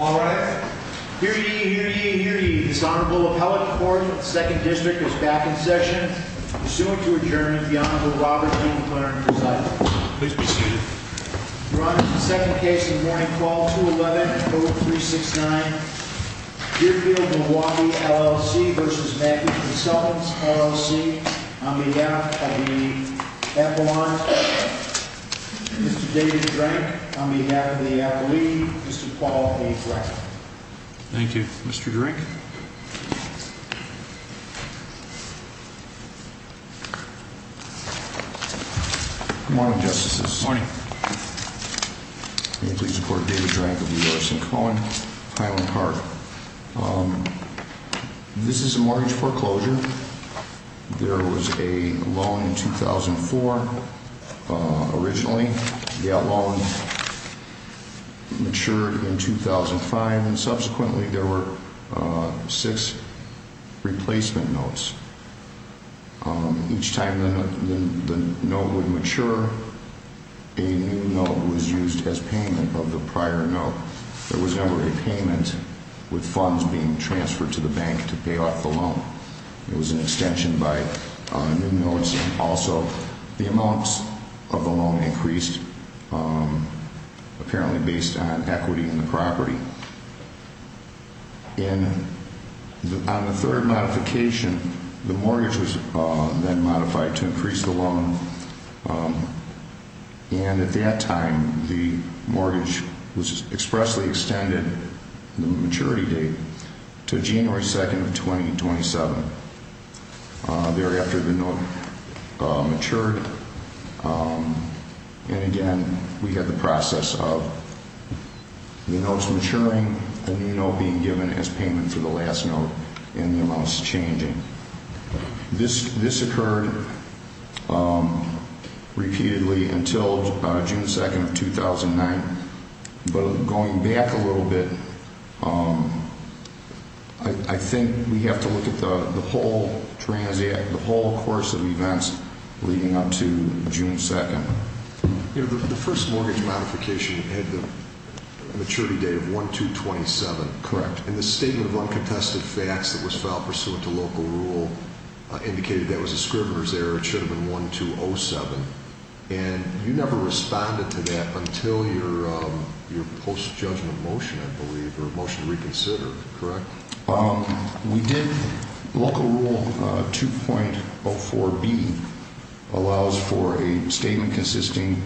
Alright, hear ye, hear ye, hear ye. This Honorable Appellate Court of the 2nd District is back in session. Pursuant to adjournment, the Honorable Robert D. McLaren presides. Please be seated. Your Honor, the second case of the morning, Clause 211 of Code 369, Deerfield, Milwaukee, LLC v. Mackie Consultants, LLC, on behalf of the Appellant, Mr. David Drank, on behalf of the Appellee, Mr. Paul A. Drank. Thank you, Mr. Drank. Good morning, Justices. Good morning. May it please the Court, David Drank of the U.S. and Cohen, Highland Park. This is a mortgage foreclosure. There was a loan in 2004. Originally, that loan matured in 2005, and subsequently there were six replacement notes. Each time the note would mature, a new note was used as payment of the prior note. There was never a payment with funds being transferred to the bank to pay off the loan. It was an extension by new notes. Also, the amounts of the loan increased, apparently based on equity in the property. On the third modification, the mortgage was then modified to increase the loan. At that time, the mortgage was expressly extended, the maturity date, to January 2, 2027. Thereafter, the note matured. Again, we had the process of the notes maturing, the new note being given as payment for the last note, and the amounts changing. This occurred repeatedly until June 2, 2009. Going back a little bit, I think we have to look at the whole course of events leading up to June 2. The first mortgage modification had a maturity date of 1-2-27. Correct. The statement of uncontested facts that was filed pursuant to local rule indicated that was a scrivener's error. It should have been 1-2-07. You never responded to that until your post-judgment motion, I believe, or motion to reconsider, correct? We did. Local Rule 2.04b allows for a statement consisting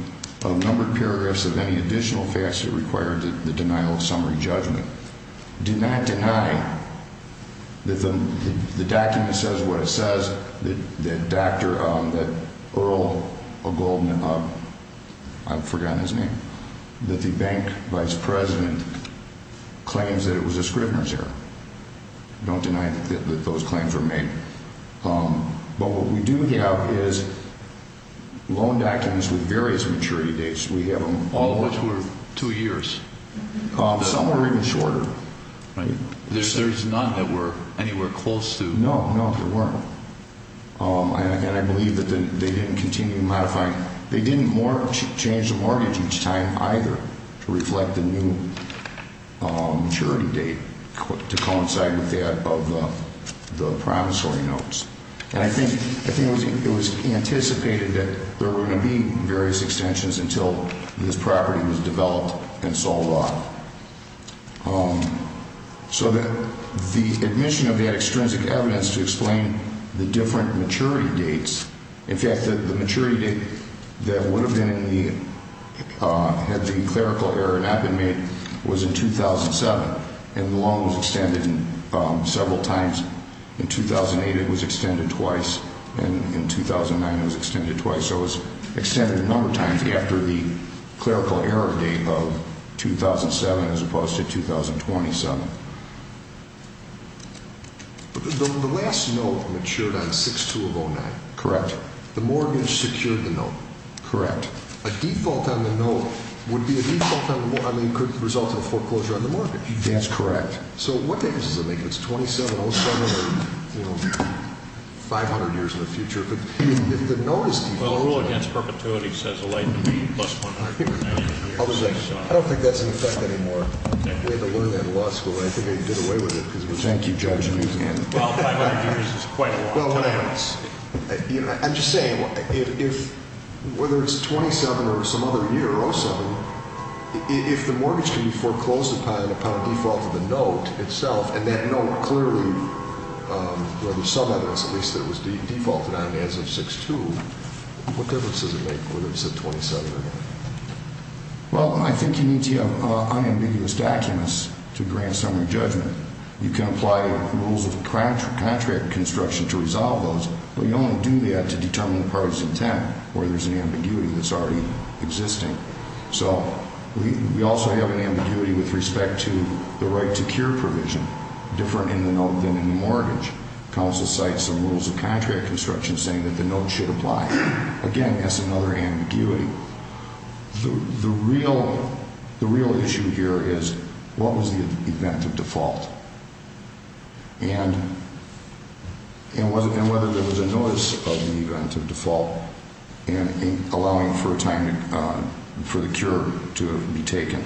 of numbered paragraphs of any additional facts that require the denial of summary judgment. Do not deny that the document says what it says, that Earl O'Golden, I've forgotten his name, that the bank vice president claims that it was a scrivener's error. Don't deny that those claims were made. But what we do have is loan documents with various maturity dates. All of which were two years? Some were even shorter. There's none that were anywhere close to? No, no, there weren't. And I believe that they didn't continue modifying. They didn't change the mortgage each time either to reflect the new maturity date to coincide with that of the promissory notes. And I think it was anticipated that there were going to be various extensions until this property was developed and sold off. So the admission of that extrinsic evidence to explain the different maturity dates, in fact, the maturity date that would have been in the, had the clerical error not been made, was in 2007. And the loan was extended several times. In 2008, it was extended twice. And in 2009, it was extended twice. So it was extended a number of times after the clerical error date of 2007 as opposed to 2027. The last note matured on 6-2-0-9. Correct. The mortgage secured the note. Correct. A default on the note would be a default, I mean, could result in a foreclosure on the mortgage. That's correct. So what difference does it make if it's 2007 or, you know, 500 years in the future? If the note is defaulted. Well, the rule against perpetuity says it'll be less than 100 years. I don't think that's in effect anymore. We had to learn that in law school, and I think they did away with it because we're trying to keep jobs and using them. Well, 500 years is quite a long time. I'm just saying, whether it's 2007 or some other year, 07, if the mortgage can be foreclosed upon a default of the note itself, and that note clearly, well, there's some evidence at least that it was defaulted on as of 6-2, what difference does it make whether it's a 2007 or not? Well, I think you need to have unambiguous documents to grant summary judgment. You can apply rules of contract construction to resolve those, but you only do that to determine the parties' intent, where there's an ambiguity that's already existing. So we also have an ambiguity with respect to the right-to-cure provision, different in the note than in the mortgage. Counsel cites some rules of contract construction saying that the note should apply. Again, that's another ambiguity. The real issue here is what was the event of default and whether there was a notice of the event of default and allowing for a time for the cure to be taken.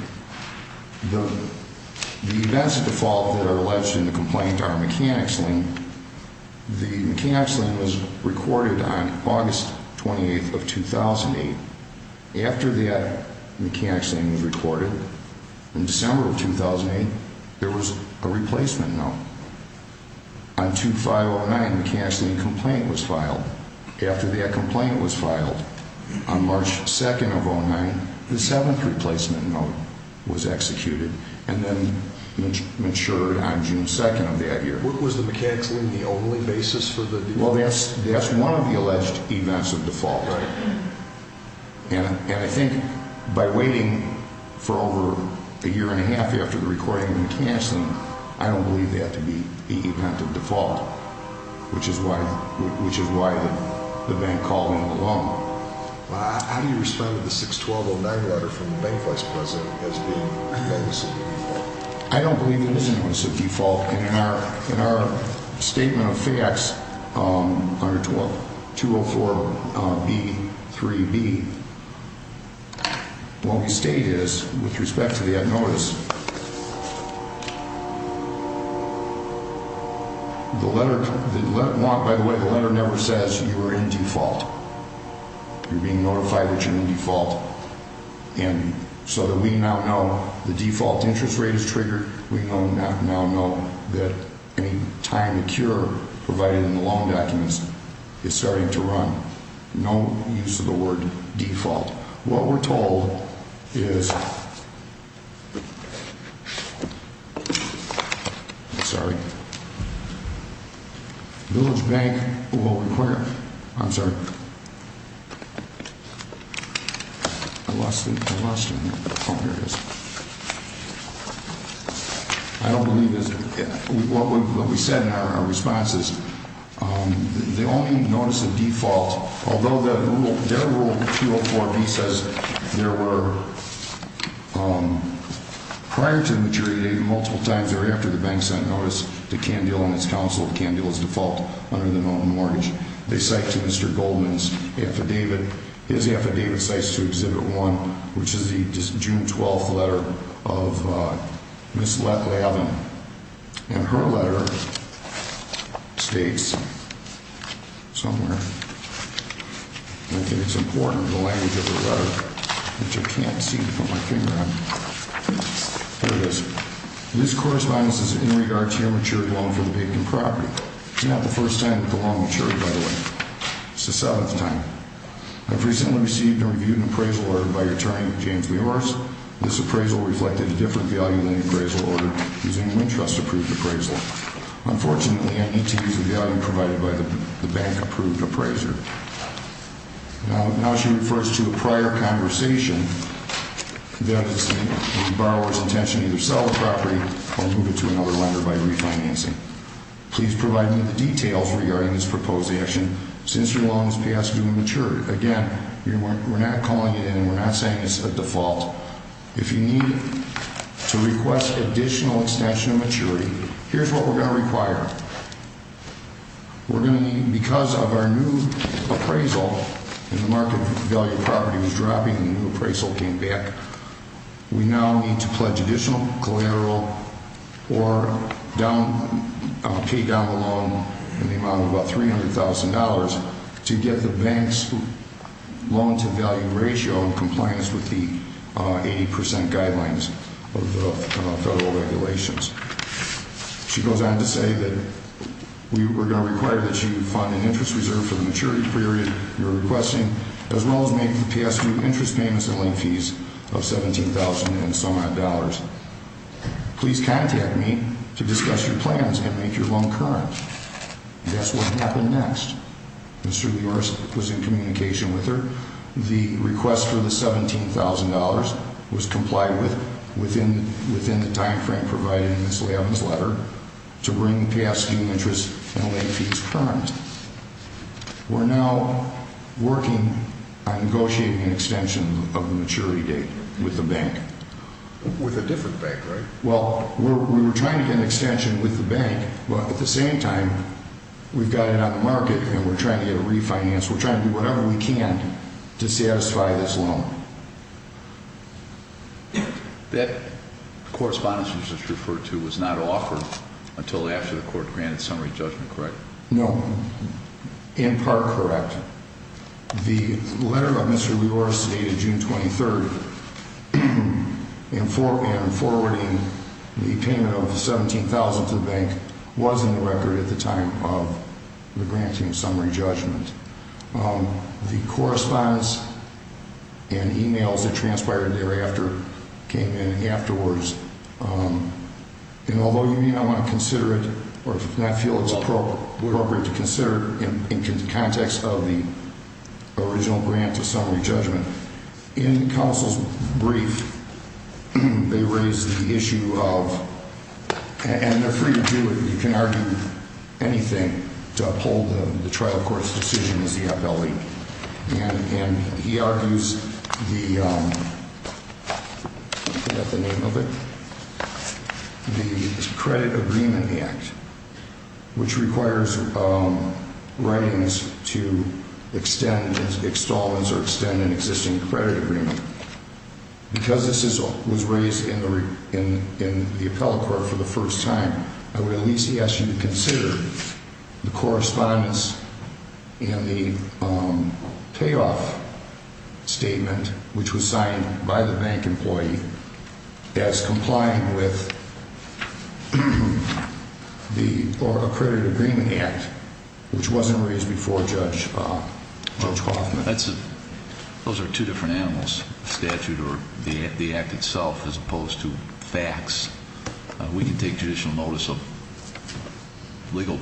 The events of default that are alleged in the complaint are mechanics lien. The mechanics lien was recorded on August 28th of 2008. After that mechanics lien was recorded, in December of 2008, there was a replacement note. On 2-5-09, the mechanics lien complaint was filed. After that complaint was filed, on March 2nd of 2009, the seventh replacement note was executed and then matured on June 2nd of that year. Was the mechanics lien the only basis for the default? Well, that's one of the alleged events of default. And I think by waiting for over a year and a half after the recording of the mechanics lien, I don't believe that to be the event of default, which is why the bank called in the loan. How do you respond to the 6-12-09 letter from the bank vice president as being evidence of default? I don't believe it is evidence of default. And in our statement of facts under 204-B-3-B, what we state is, with respect to that notice, the letter never says you are in default. You're being notified that you're in default. And so that we now know the default interest rate is triggered, we now know that any time the cure provided in the loan documents is starting to run, no use of the word default. What we're told is, sorry, Village Bank will require, I'm sorry, I lost it, I lost it. Oh, here it is. I don't believe it is. What we said in our response is, the only notice of default, although their rule 204-B says there were, prior to the maturity, multiple times, or after the bank sent notice to CanDeal and its counsel, CanDeal is default under the mountain mortgage, they cite to Mr. Goldman's affidavit. His affidavit cites to Exhibit 1, which is the June 12th letter of Ms. Lavin. And her letter states somewhere, and I think it's important, the language of the letter, which I can't seem to put my finger on. Here it is. This corresponds in regard to your maturity loan from the vacant property. It's not the first time that the loan matured, by the way. It's the seventh time. I've recently received and reviewed an appraisal order by Attorney James Meores. This appraisal reflected a different value than the appraisal order using a WinTrust-approved appraisal. Unfortunately, I need to use a value provided by the bank-approved appraiser. Now, she refers to a prior conversation that the borrower's intention to either sell the property or move it to another lender by refinancing. Please provide me the details regarding this proposed action. Since your loan has passed due and matured, again, we're not calling it in and we're not saying it's a default. If you need to request additional extension of maturity, here's what we're going to require. We're going to need, because of our new appraisal, and the market value of the property was dropping and the new appraisal came back, we now need to pledge additional collateral or pay down the loan in the amount of about $300,000 to get the bank's loan-to-value ratio in compliance with the 80% guidelines of the federal regulations. She goes on to say that we're going to require that you fund an interest reserve for the maturity period you're requesting, as well as make the past due interest payments and late fees of $17,000 and some odd dollars. Please contact me to discuss your plans and make your loan current. That's what happened next. Mr. Lewis was in communication with her. The request for the $17,000 was complied with within the timeframe provided in Ms. Lavin's letter to bring past due interest and late fees current. We're now working on negotiating an extension of the maturity date with the bank. With a different bank, right? Well, we were trying to get an extension with the bank, but at the same time, we've got it on the market and we're trying to get it refinanced. We're trying to do whatever we can to satisfy this loan. That correspondence you just referred to was not offered until after the court granted summary judgment, correct? No. In part, correct. The letter that Mr. Lioris stated June 23rd in forwarding the payment of $17,000 to the bank was in the record at the time of the granting summary judgment. The correspondence and emails that transpired thereafter came in afterwards. Although you may not want to consider it or not feel it's appropriate to consider it in the context of the original grant of summary judgment, in counsel's brief, they raise the issue of—and they're free to do it. You can argue anything to uphold the trial court's decision as the appellee. And he argues the—I forget the name of it—the credit agreement act, which requires writings to extend installments or extend an existing credit agreement. Because this was raised in the appellate court for the first time, I would at least ask you to consider the correspondence and the payoff statement, which was signed by the bank employee as complying with the—or a credit agreement act, which wasn't raised before Judge Kaufman. Those are two different animals, statute or the act itself, as opposed to facts. We can take judicial notice of legal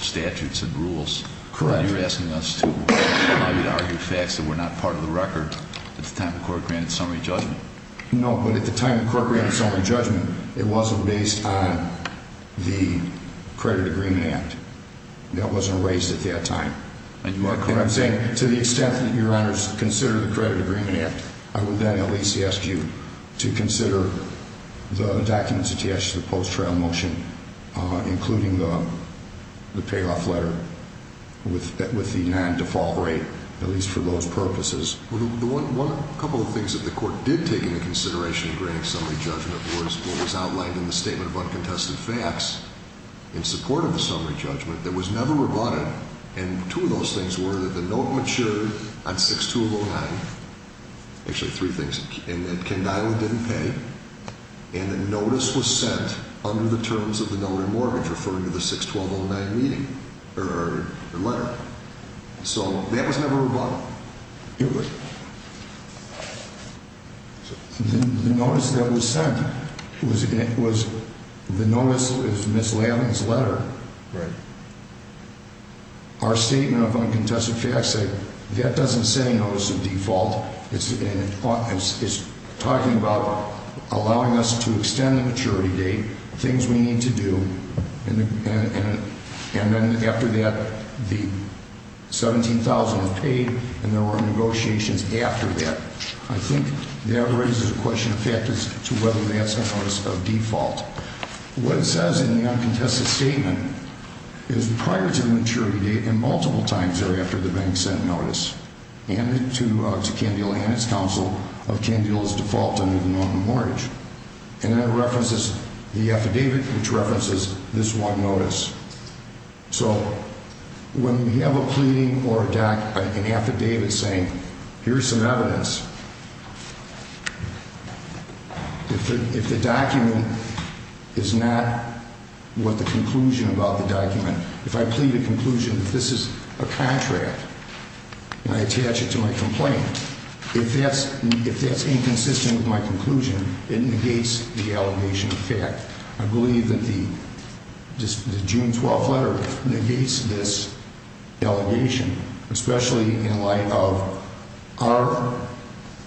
statutes and rules. Correct. But you're asking us to argue facts that were not part of the record at the time the court granted summary judgment. No, but at the time the court granted summary judgment, it wasn't based on the credit agreement act. That wasn't raised at that time. And you are correct. What I'm saying, to the extent that Your Honors consider the credit agreement act, I would then at least ask you to consider the documents attached to the post-trial motion, including the payoff letter with the non-default rate, at least for those purposes. One—a couple of things that the court did take into consideration in granting summary judgment was what was outlined in the statement of uncontested facts in support of the summary judgment that was never rebutted. And two of those things were that the note matured on 6-2-0-9—actually, three things— and that Kendila didn't pay, and the notice was sent under the terms of the notary mortgage, referring to the 6-12-0-9 meeting—or letter. So that was never rebutted. The notice that was sent was—the notice is Ms. Lavin's letter. Right. Our statement of uncontested facts, that doesn't say notice of default. It's talking about allowing us to extend the maturity date, things we need to do, and then after that, the $17,000 was paid, and there were negotiations after that. I think that raises a question of factors to whether that's a notice of default. What it says in the uncontested statement is prior to the maturity date and multiple times thereafter the bank sent notice to Kendila and its counsel of Kendila's default under the notary mortgage. And then it references the affidavit, which references this one notice. So when we have a pleading or an affidavit saying, here's some evidence, if the document is not what the conclusion about the document— if I plead a conclusion that this is a contract and I attach it to my complaint, if that's inconsistent with my conclusion, it negates the allegation of fact. I believe that the June 12th letter negates this allegation, especially in light of our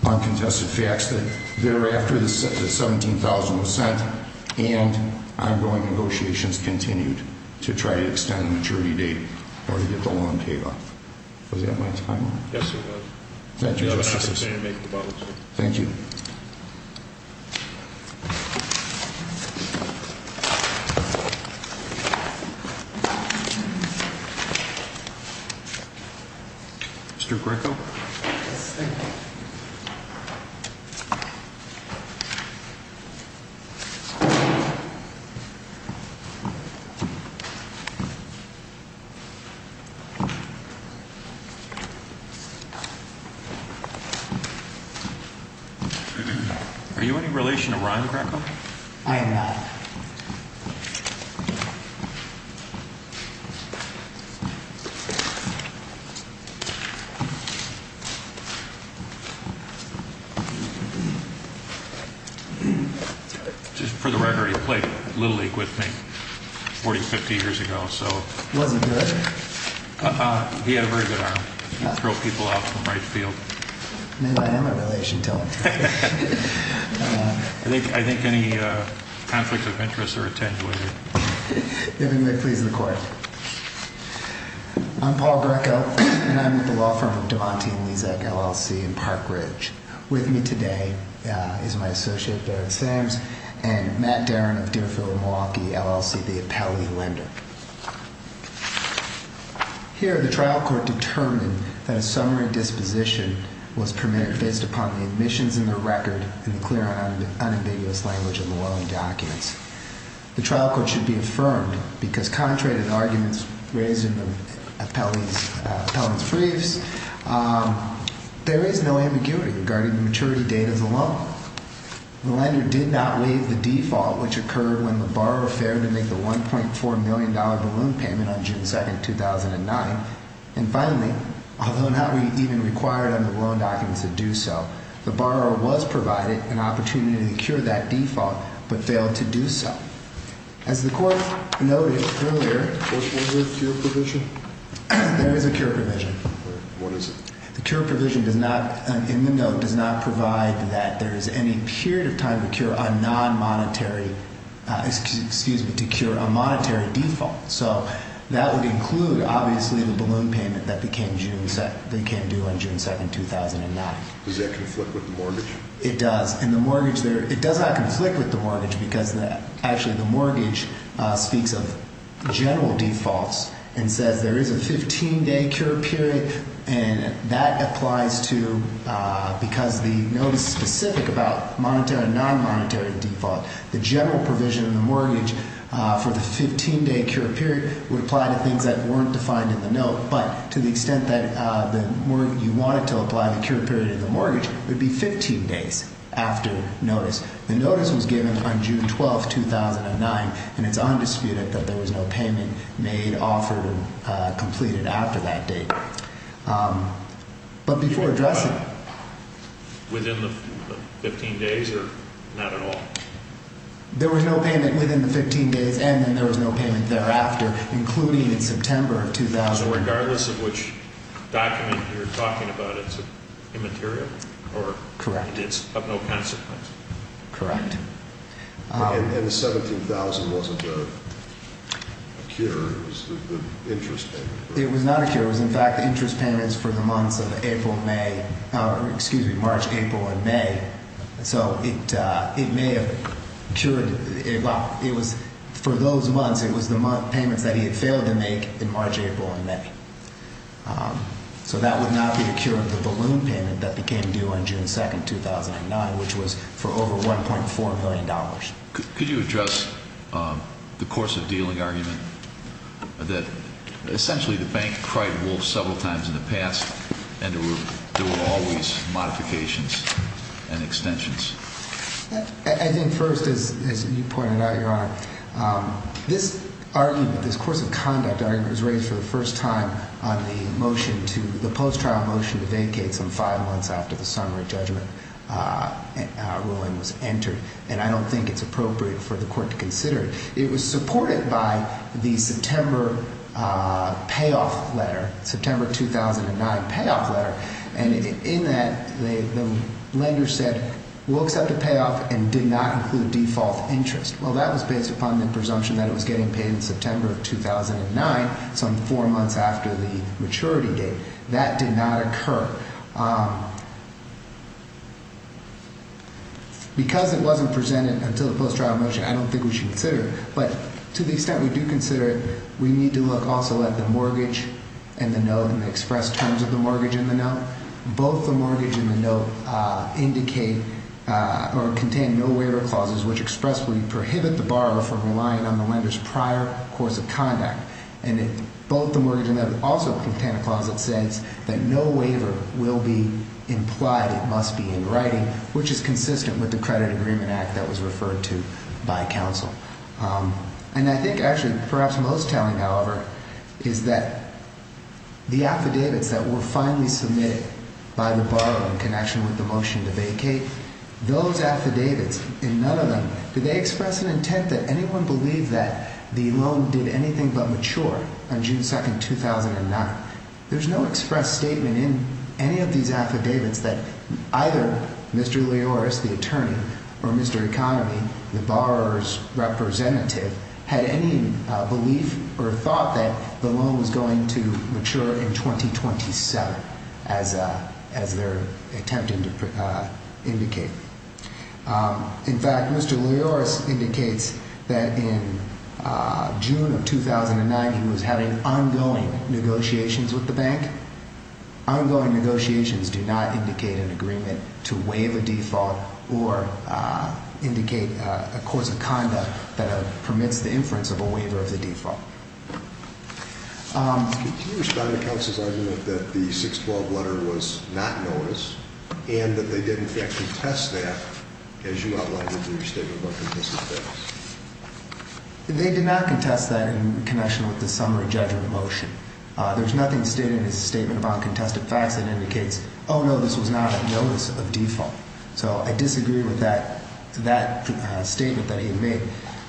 uncontested facts that thereafter the $17,000 was sent and ongoing negotiations continued to try to extend the maturity date or to get the loan paid off. Was that my time? Yes, it was. Thank you, Justice. Thank you. Mr. Greco? Yes, thank you. Are you in any relation to Ryan Greco? I am not. Just for the record, he played Little League with me 40, 50 years ago, so— Was he good? He had a very good arm. You throw people out from right field. Maybe I am in relation to him. I think any conflicts of interest are attended with. If it may please the Court. I'm Paul Greco, and I'm with the law firm of Devontae & Lezak, LLC, in Park Ridge. With me today is my associate, Darren Sams, and Matt Darin of Deerfield, Milwaukee, LLC, the appellee lender. Here, the trial court determined that a summary disposition was permitted based upon the admissions in the record and the clear and unambiguous language of the loan documents. The trial court should be affirmed because contrary to the arguments raised in the appellant's briefs, there is no ambiguity regarding the maturity date of the loan. The lender did not waive the default, which occurred when the borrower failed to make the $1.4 million balloon payment on June 2, 2009. And finally, although not even required under the loan documents to do so, the borrower was provided an opportunity to cure that default, but failed to do so. As the Court noted earlier— Was there a cure provision? There is a cure provision. What is it? The cure provision does not—in the note—does not provide that there is any period of time to cure a non-monetary— excuse me, to cure a monetary default. So that would include, obviously, the balloon payment that became due on June 2, 2009. Does that conflict with the mortgage? It does. And the mortgage—it does not conflict with the mortgage because, actually, the mortgage speaks of general defaults and says there is a 15-day cure period, and that applies to— because the note is specific about monetary and non-monetary default, the general provision in the mortgage for the 15-day cure period would apply to things that weren't defined in the note. But to the extent that you wanted to apply the cure period in the mortgage, it would be 15 days after notice. The notice was given on June 12, 2009, and it's undisputed that there was no payment made, offered, and completed after that date. But before addressing— Within the 15 days or not at all? There was no payment within the 15 days, and then there was no payment thereafter, including in September of 2009. So regardless of which document you're talking about, it's immaterial? Correct. Correct. And the $17,000 wasn't a cure. It was an interest payment. It was not a cure. It was, in fact, interest payments for the months of April and May—excuse me, March, April, and May. So it may have cured—well, it was—for those months, it was the payments that he had failed to make in March, April, and May. So that would not be a cure of the balloon payment that became due on June 2, 2009, which was for over $1.4 million. Could you address the course of dealing argument that essentially the bank cried wolf several times in the past, and there were always modifications and extensions? I think first, as you pointed out, Your Honor, this argument, this course of conduct argument, was raised for the first time on the motion to—the post-trial motion to vacate some five months after the summary judgment ruling was entered. And I don't think it's appropriate for the court to consider it. It was supported by the September payoff letter, September 2009 payoff letter. And in that, the lender said, we'll accept the payoff and did not include default interest. Well, that was based upon the presumption that it was getting paid in September of 2009, some four months after the maturity date. That did not occur. Because it wasn't presented until the post-trial motion, I don't think we should consider it. But to the extent we do consider it, we need to look also at the mortgage and the note and the expressed terms of the mortgage and the note. Both the mortgage and the note indicate or contain no waiver clauses, which expressfully prohibit the borrower from relying on the lender's prior course of conduct. And both the mortgage and the note also contain a clause that says that no waiver will be implied. It must be in writing, which is consistent with the Credit Agreement Act that was referred to by counsel. And I think actually perhaps most telling, however, is that the affidavits that were finally submitted by the borrower in connection with the motion to vacate, those affidavits and none of them, did they express an intent that anyone believe that the loan did anything but mature on June 2nd, 2009? There's no expressed statement in any of these affidavits that either Mr. Lioris, the attorney, or Mr. Economy, the borrower's representative, had any belief or thought that the loan was going to mature in 2027, as they're attempting to indicate. In fact, Mr. Lioris indicates that in June of 2009, he was having ongoing negotiations with the bank. Ongoing negotiations do not indicate an agreement to waive a default or indicate a course of conduct that permits the inference of a waiver of the default. Can you respond to counsel's argument that the 612 letter was not noticed and that they did, in fact, contest that, as you outlined in your statement about contested debtors? They did not contest that in connection with the summary judgment motion. There's nothing stated in his statement about contested facts that indicates, oh, no, this was not a notice of default. So I disagree with that statement that he made.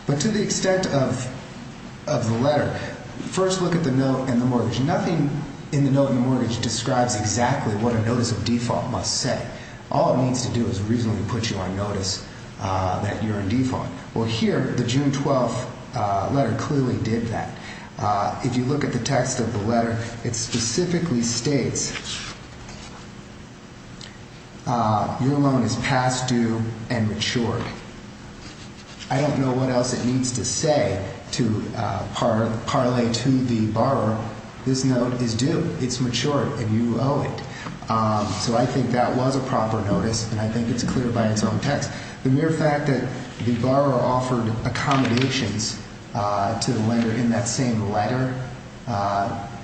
But to the extent of the letter, first look at the note in the mortgage. Nothing in the note in the mortgage describes exactly what a notice of default must say. All it needs to do is reasonably put you on notice that you're in default. Well, here, the June 12th letter clearly did that. If you look at the text of the letter, it specifically states, your loan is past due and matured. I don't know what else it needs to say to parlay to the borrower, this note is due, it's matured, and you owe it. So I think that was a proper notice, and I think it's clear by its own text. The mere fact that the borrower offered accommodations to the lender in that same letter,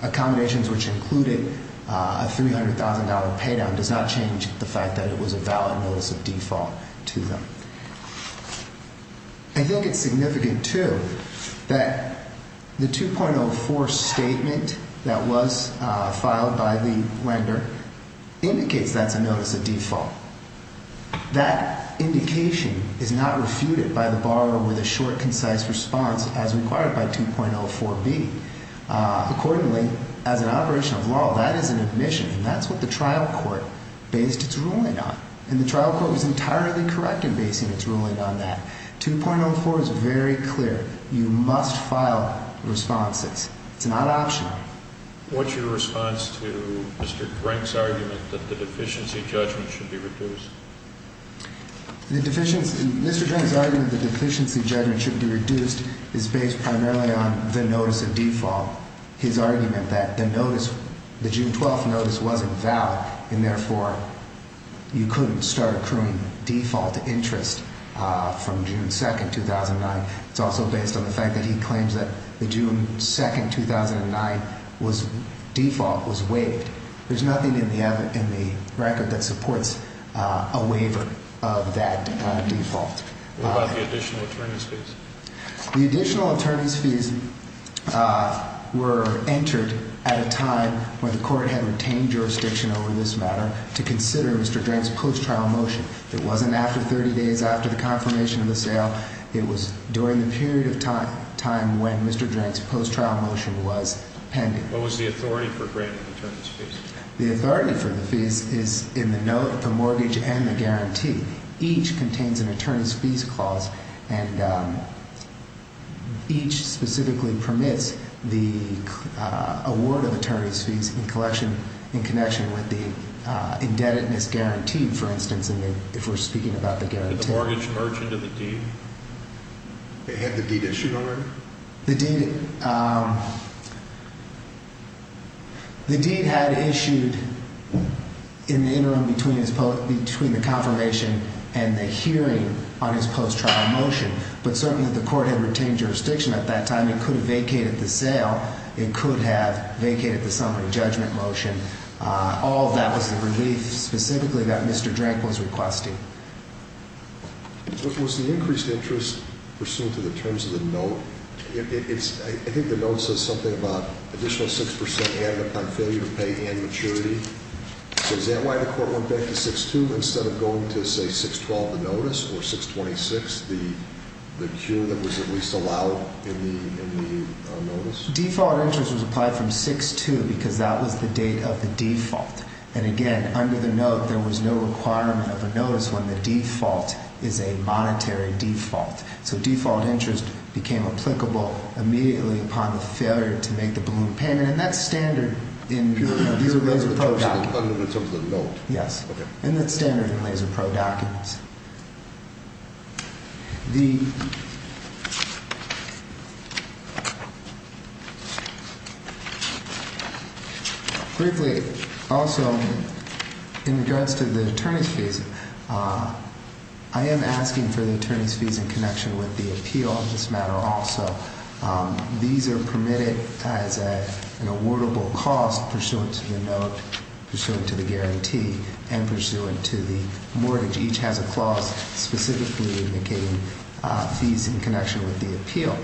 accommodations which included a $300,000 pay down, does not change the fact that it was a valid notice of default to them. I think it's significant, too, that the 2.04 statement that was filed by the lender indicates that's a notice of default. That indication is not refuted by the borrower with a short, concise response as required by 2.04b. Accordingly, as an operation of law, that is an admission, and that's what the trial court based its ruling on. And the trial court was entirely correct in basing its ruling on that. 2.04 is very clear. You must file responses. It's not optional. What's your response to Mr. Drink's argument that the deficiency judgment should be reduced? Mr. Drink's argument that the deficiency judgment should be reduced is based primarily on the notice of default. His argument that the June 12th notice wasn't valid, and therefore you couldn't start accruing default interest from June 2nd, 2009. It's also based on the fact that he claims that the June 2nd, 2009 default was waived. There's nothing in the record that supports a waiver of that default. What about the additional attorney's fees? The additional attorney's fees were entered at a time when the court had retained jurisdiction over this matter to consider Mr. Drink's post-trial motion. It wasn't after 30 days after the confirmation of the sale. It was during the period of time when Mr. Drink's post-trial motion was pending. What was the authority for granting attorney's fees? The authority for the fees is in the note, the mortgage, and the guarantee. Each contains an attorney's fees clause, and each specifically permits the award of attorney's fees in connection with the indebtedness guarantee, for instance, if we're speaking about the guarantee. Did the mortgage merge into the deed? It had the deed issued already? The deed had issued in the interim between the confirmation and the hearing on his post-trial motion, but certainly the court had retained jurisdiction at that time. It could have vacated the sale. It could have vacated the summary judgment motion. All of that was the relief specifically that Mr. Drink was requesting. Was the increased interest pursuant to the terms of the note? I think the note says something about additional 6% added upon failure to pay and maturity. Is that why the court went back to 6-2 instead of going to, say, 6-12, the notice, or 6-26, the cure that was at least allowed in the notice? Default interest was applied from 6-2 because that was the date of the default. And, again, under the note, there was no requirement of a notice when the default is a monetary default. So default interest became applicable immediately upon the failure to make the balloon payment, and that's standard in laser pro documents. In terms of the note? Yes. Okay. And that's standard in laser pro documents. Briefly, also, in regards to the attorney's fees, I am asking for the attorney's fees in connection with the appeal on this matter also. These are permitted as an awardable cost pursuant to the note, pursuant to the guarantee, and pursuant to the mortgage. Each has a clause specifically indicating fees in connection with the appeal.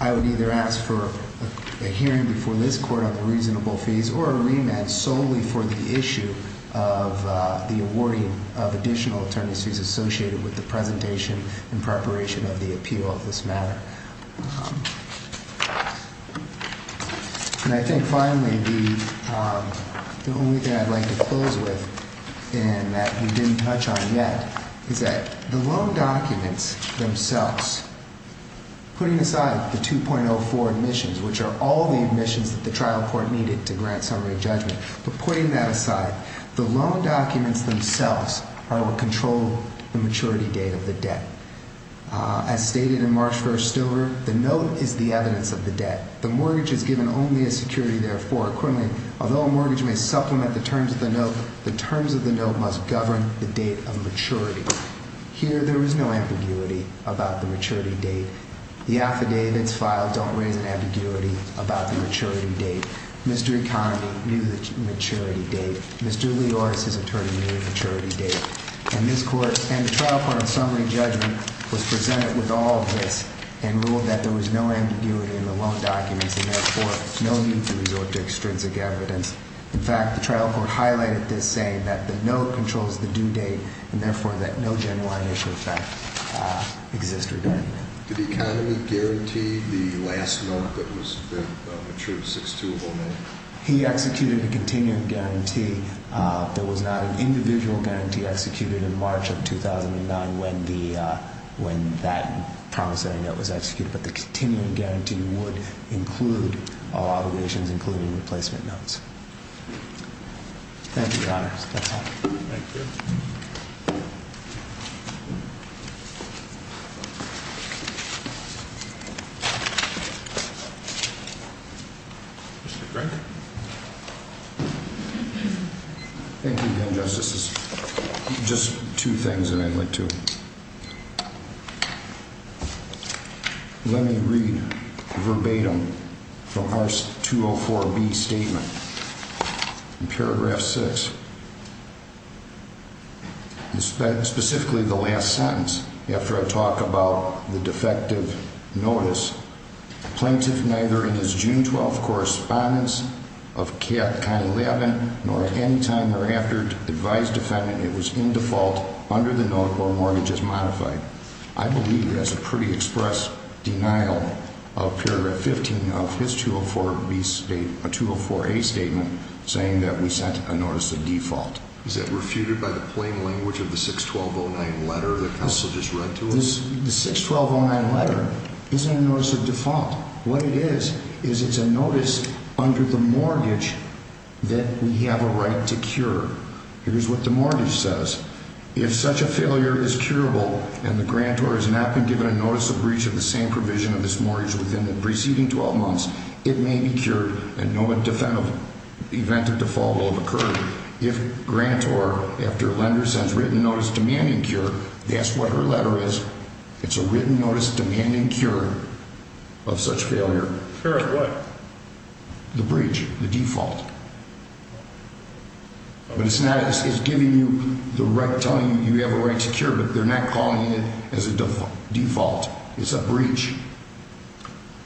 I would either ask for a hearing before this court on the reasonable fees or a remand solely for the issue of the awarding of additional attorney's fees associated with the presentation in preparation of the appeal of this matter. And I think, finally, the only thing I'd like to close with, and that we didn't touch on yet, is that the loan documents themselves, putting aside the 2.04 admissions, which are all the admissions that the trial court needed to grant summary judgment, but putting that aside, the loan documents themselves are what control the maturity date of the debt. As stated in March 1, Stover, the note is the evidence of the debt. The mortgage is given only as security, therefore. Accordingly, although a mortgage may supplement the terms of the note, the terms of the note must govern the date of maturity. Here, there is no ambiguity about the maturity date. The affidavits filed don't raise an ambiguity about the maturity date. Mr. Economy knew the maturity date. Mr. Lioris, his attorney, knew the maturity date. And the trial court in summary judgment was presented with all of this and ruled that there was no ambiguity in the loan documents and, therefore, no need to resort to extrinsic evidence. In fact, the trial court highlighted this, saying that the note controls the due date and, therefore, that no genuine issue of fact exists regarding that. Did Economy guarantee the last note that was the matured 6-2 of Oman? He executed a continuing guarantee. There was not an individual guarantee executed in March of 2009 when that promise setting note was executed. But the continuing guarantee would include all obligations, including replacement notes. Thank you, Your Honors. That's all. Thank you. Thank you. Mr. Crankin. Thank you, Justice. Just two things that I'd like to. Let me read verbatim from our 204B statement. Paragraph 6. Specifically, the last sentence, after I talk about the defective notice. Plaintiff neither in his June 12 correspondence of Cap Con 11 nor at any time thereafter advised defendant it was in default under the note or mortgages modified. I believe that's a pretty express denial of paragraph 15 of his 204A statement saying that we sent a notice of default. Is that refuted by the plain language of the 6-12-09 letter that counsel just read to us? The 6-12-09 letter isn't a notice of default. What it is is it's a notice under the mortgage that we have a right to cure. Here's what the mortgage says. If such a failure is curable and the grantor has not been given a notice of breach of the same provision of this mortgage within the preceding 12 months, it may be cured and no event of default will have occurred. If grantor, after a lender, sends written notice demanding cure, that's what her letter is. It's a written notice demanding cure of such failure. Cure of what? The breach, the default. But it's giving you the right, telling you you have a right to cure, but they're not calling it as a default. It's a breach.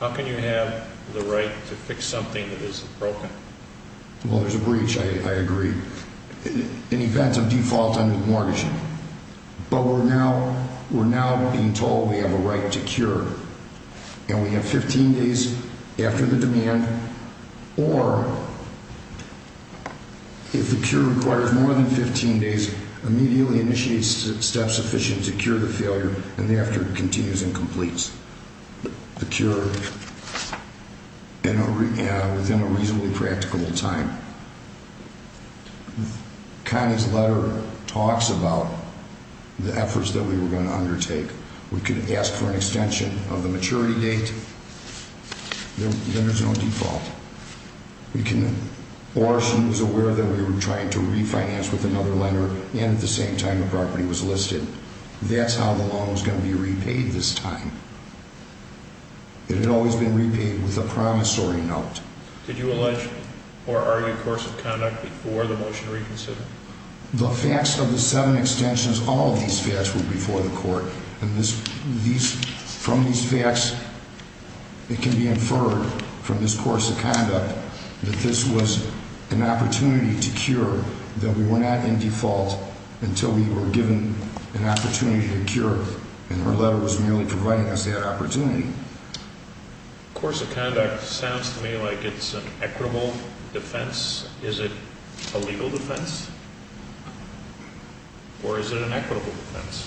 How can you have the right to fix something that isn't broken? Well, there's a breach, I agree, in event of default under the mortgage. But we're now being told we have a right to cure, and we have 15 days after the demand. Or if the cure requires more than 15 days, immediately initiate steps sufficient to cure the failure, and the after continues and completes the cure within a reasonably practicable time. Connie's letter talks about the efforts that we were going to undertake. We could ask for an extension of the maturity date. Then there's no default. Or she was aware that we were trying to refinance with another lender, and at the same time the property was listed. That's how the loan was going to be repaid this time. It had always been repaid with a promissory note. Did you allege or argue course of conduct before the motion reconsidered? The facts of the seven extensions, all of these facts were before the court. And from these facts, it can be inferred from this course of conduct that this was an opportunity to cure, that we were not in default until we were given an opportunity to cure. And her letter was merely providing us that opportunity. Course of conduct sounds to me like it's an equitable defense. Is it a legal defense? Or is it an equitable defense?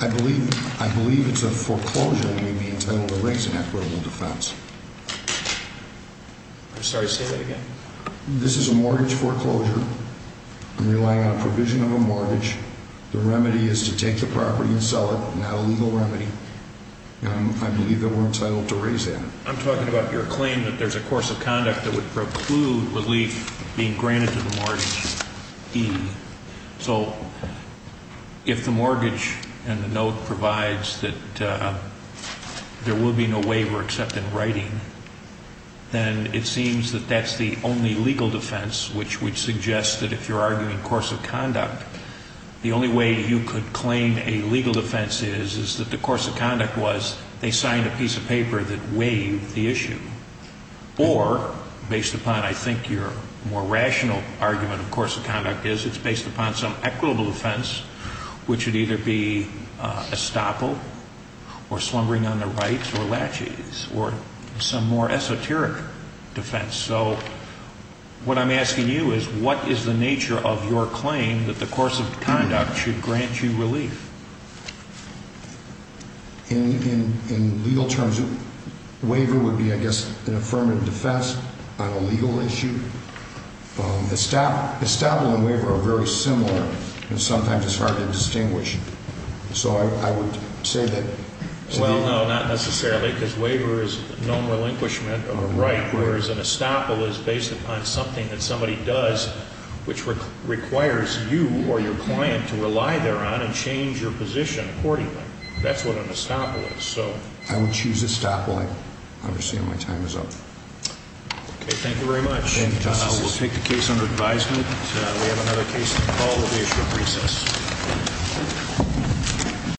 I believe it's a foreclosure that may be entitled to raise an equitable defense. I'm sorry, say that again. This is a mortgage foreclosure. I'm relying on a provision of a mortgage. The remedy is to take the property and sell it, not a legal remedy. I believe that we're entitled to raise that. I'm talking about your claim that there's a course of conduct that would preclude relief being granted to the mortgagee. So if the mortgage and the note provides that there will be no waiver except in writing, then it seems that that's the only legal defense, which would suggest that if you're arguing course of conduct, the only way you could claim a legal defense is that the course of conduct was they signed a piece of paper that waived the issue. Or, based upon, I think, your more rational argument of course of conduct is it's based upon some equitable defense, which would either be estoppel or slumbering on the rights or laches or some more esoteric defense. So what I'm asking you is what is the nature of your claim that the course of conduct should grant you relief? In legal terms, waiver would be, I guess, an affirmative defense on a legal issue. Estoppel and waiver are very similar, and sometimes it's hard to distinguish. So I would say that. Well, no, not necessarily, because waiver is known relinquishment of a right, whereas an estoppel is based upon something that somebody does, which requires you or your client to rely thereon and change your position accordingly. That's what an estoppel is. I would choose estoppel. I understand my time is up. Okay, thank you very much. We'll take the case under advisement. We have another case to call at the issue of recess.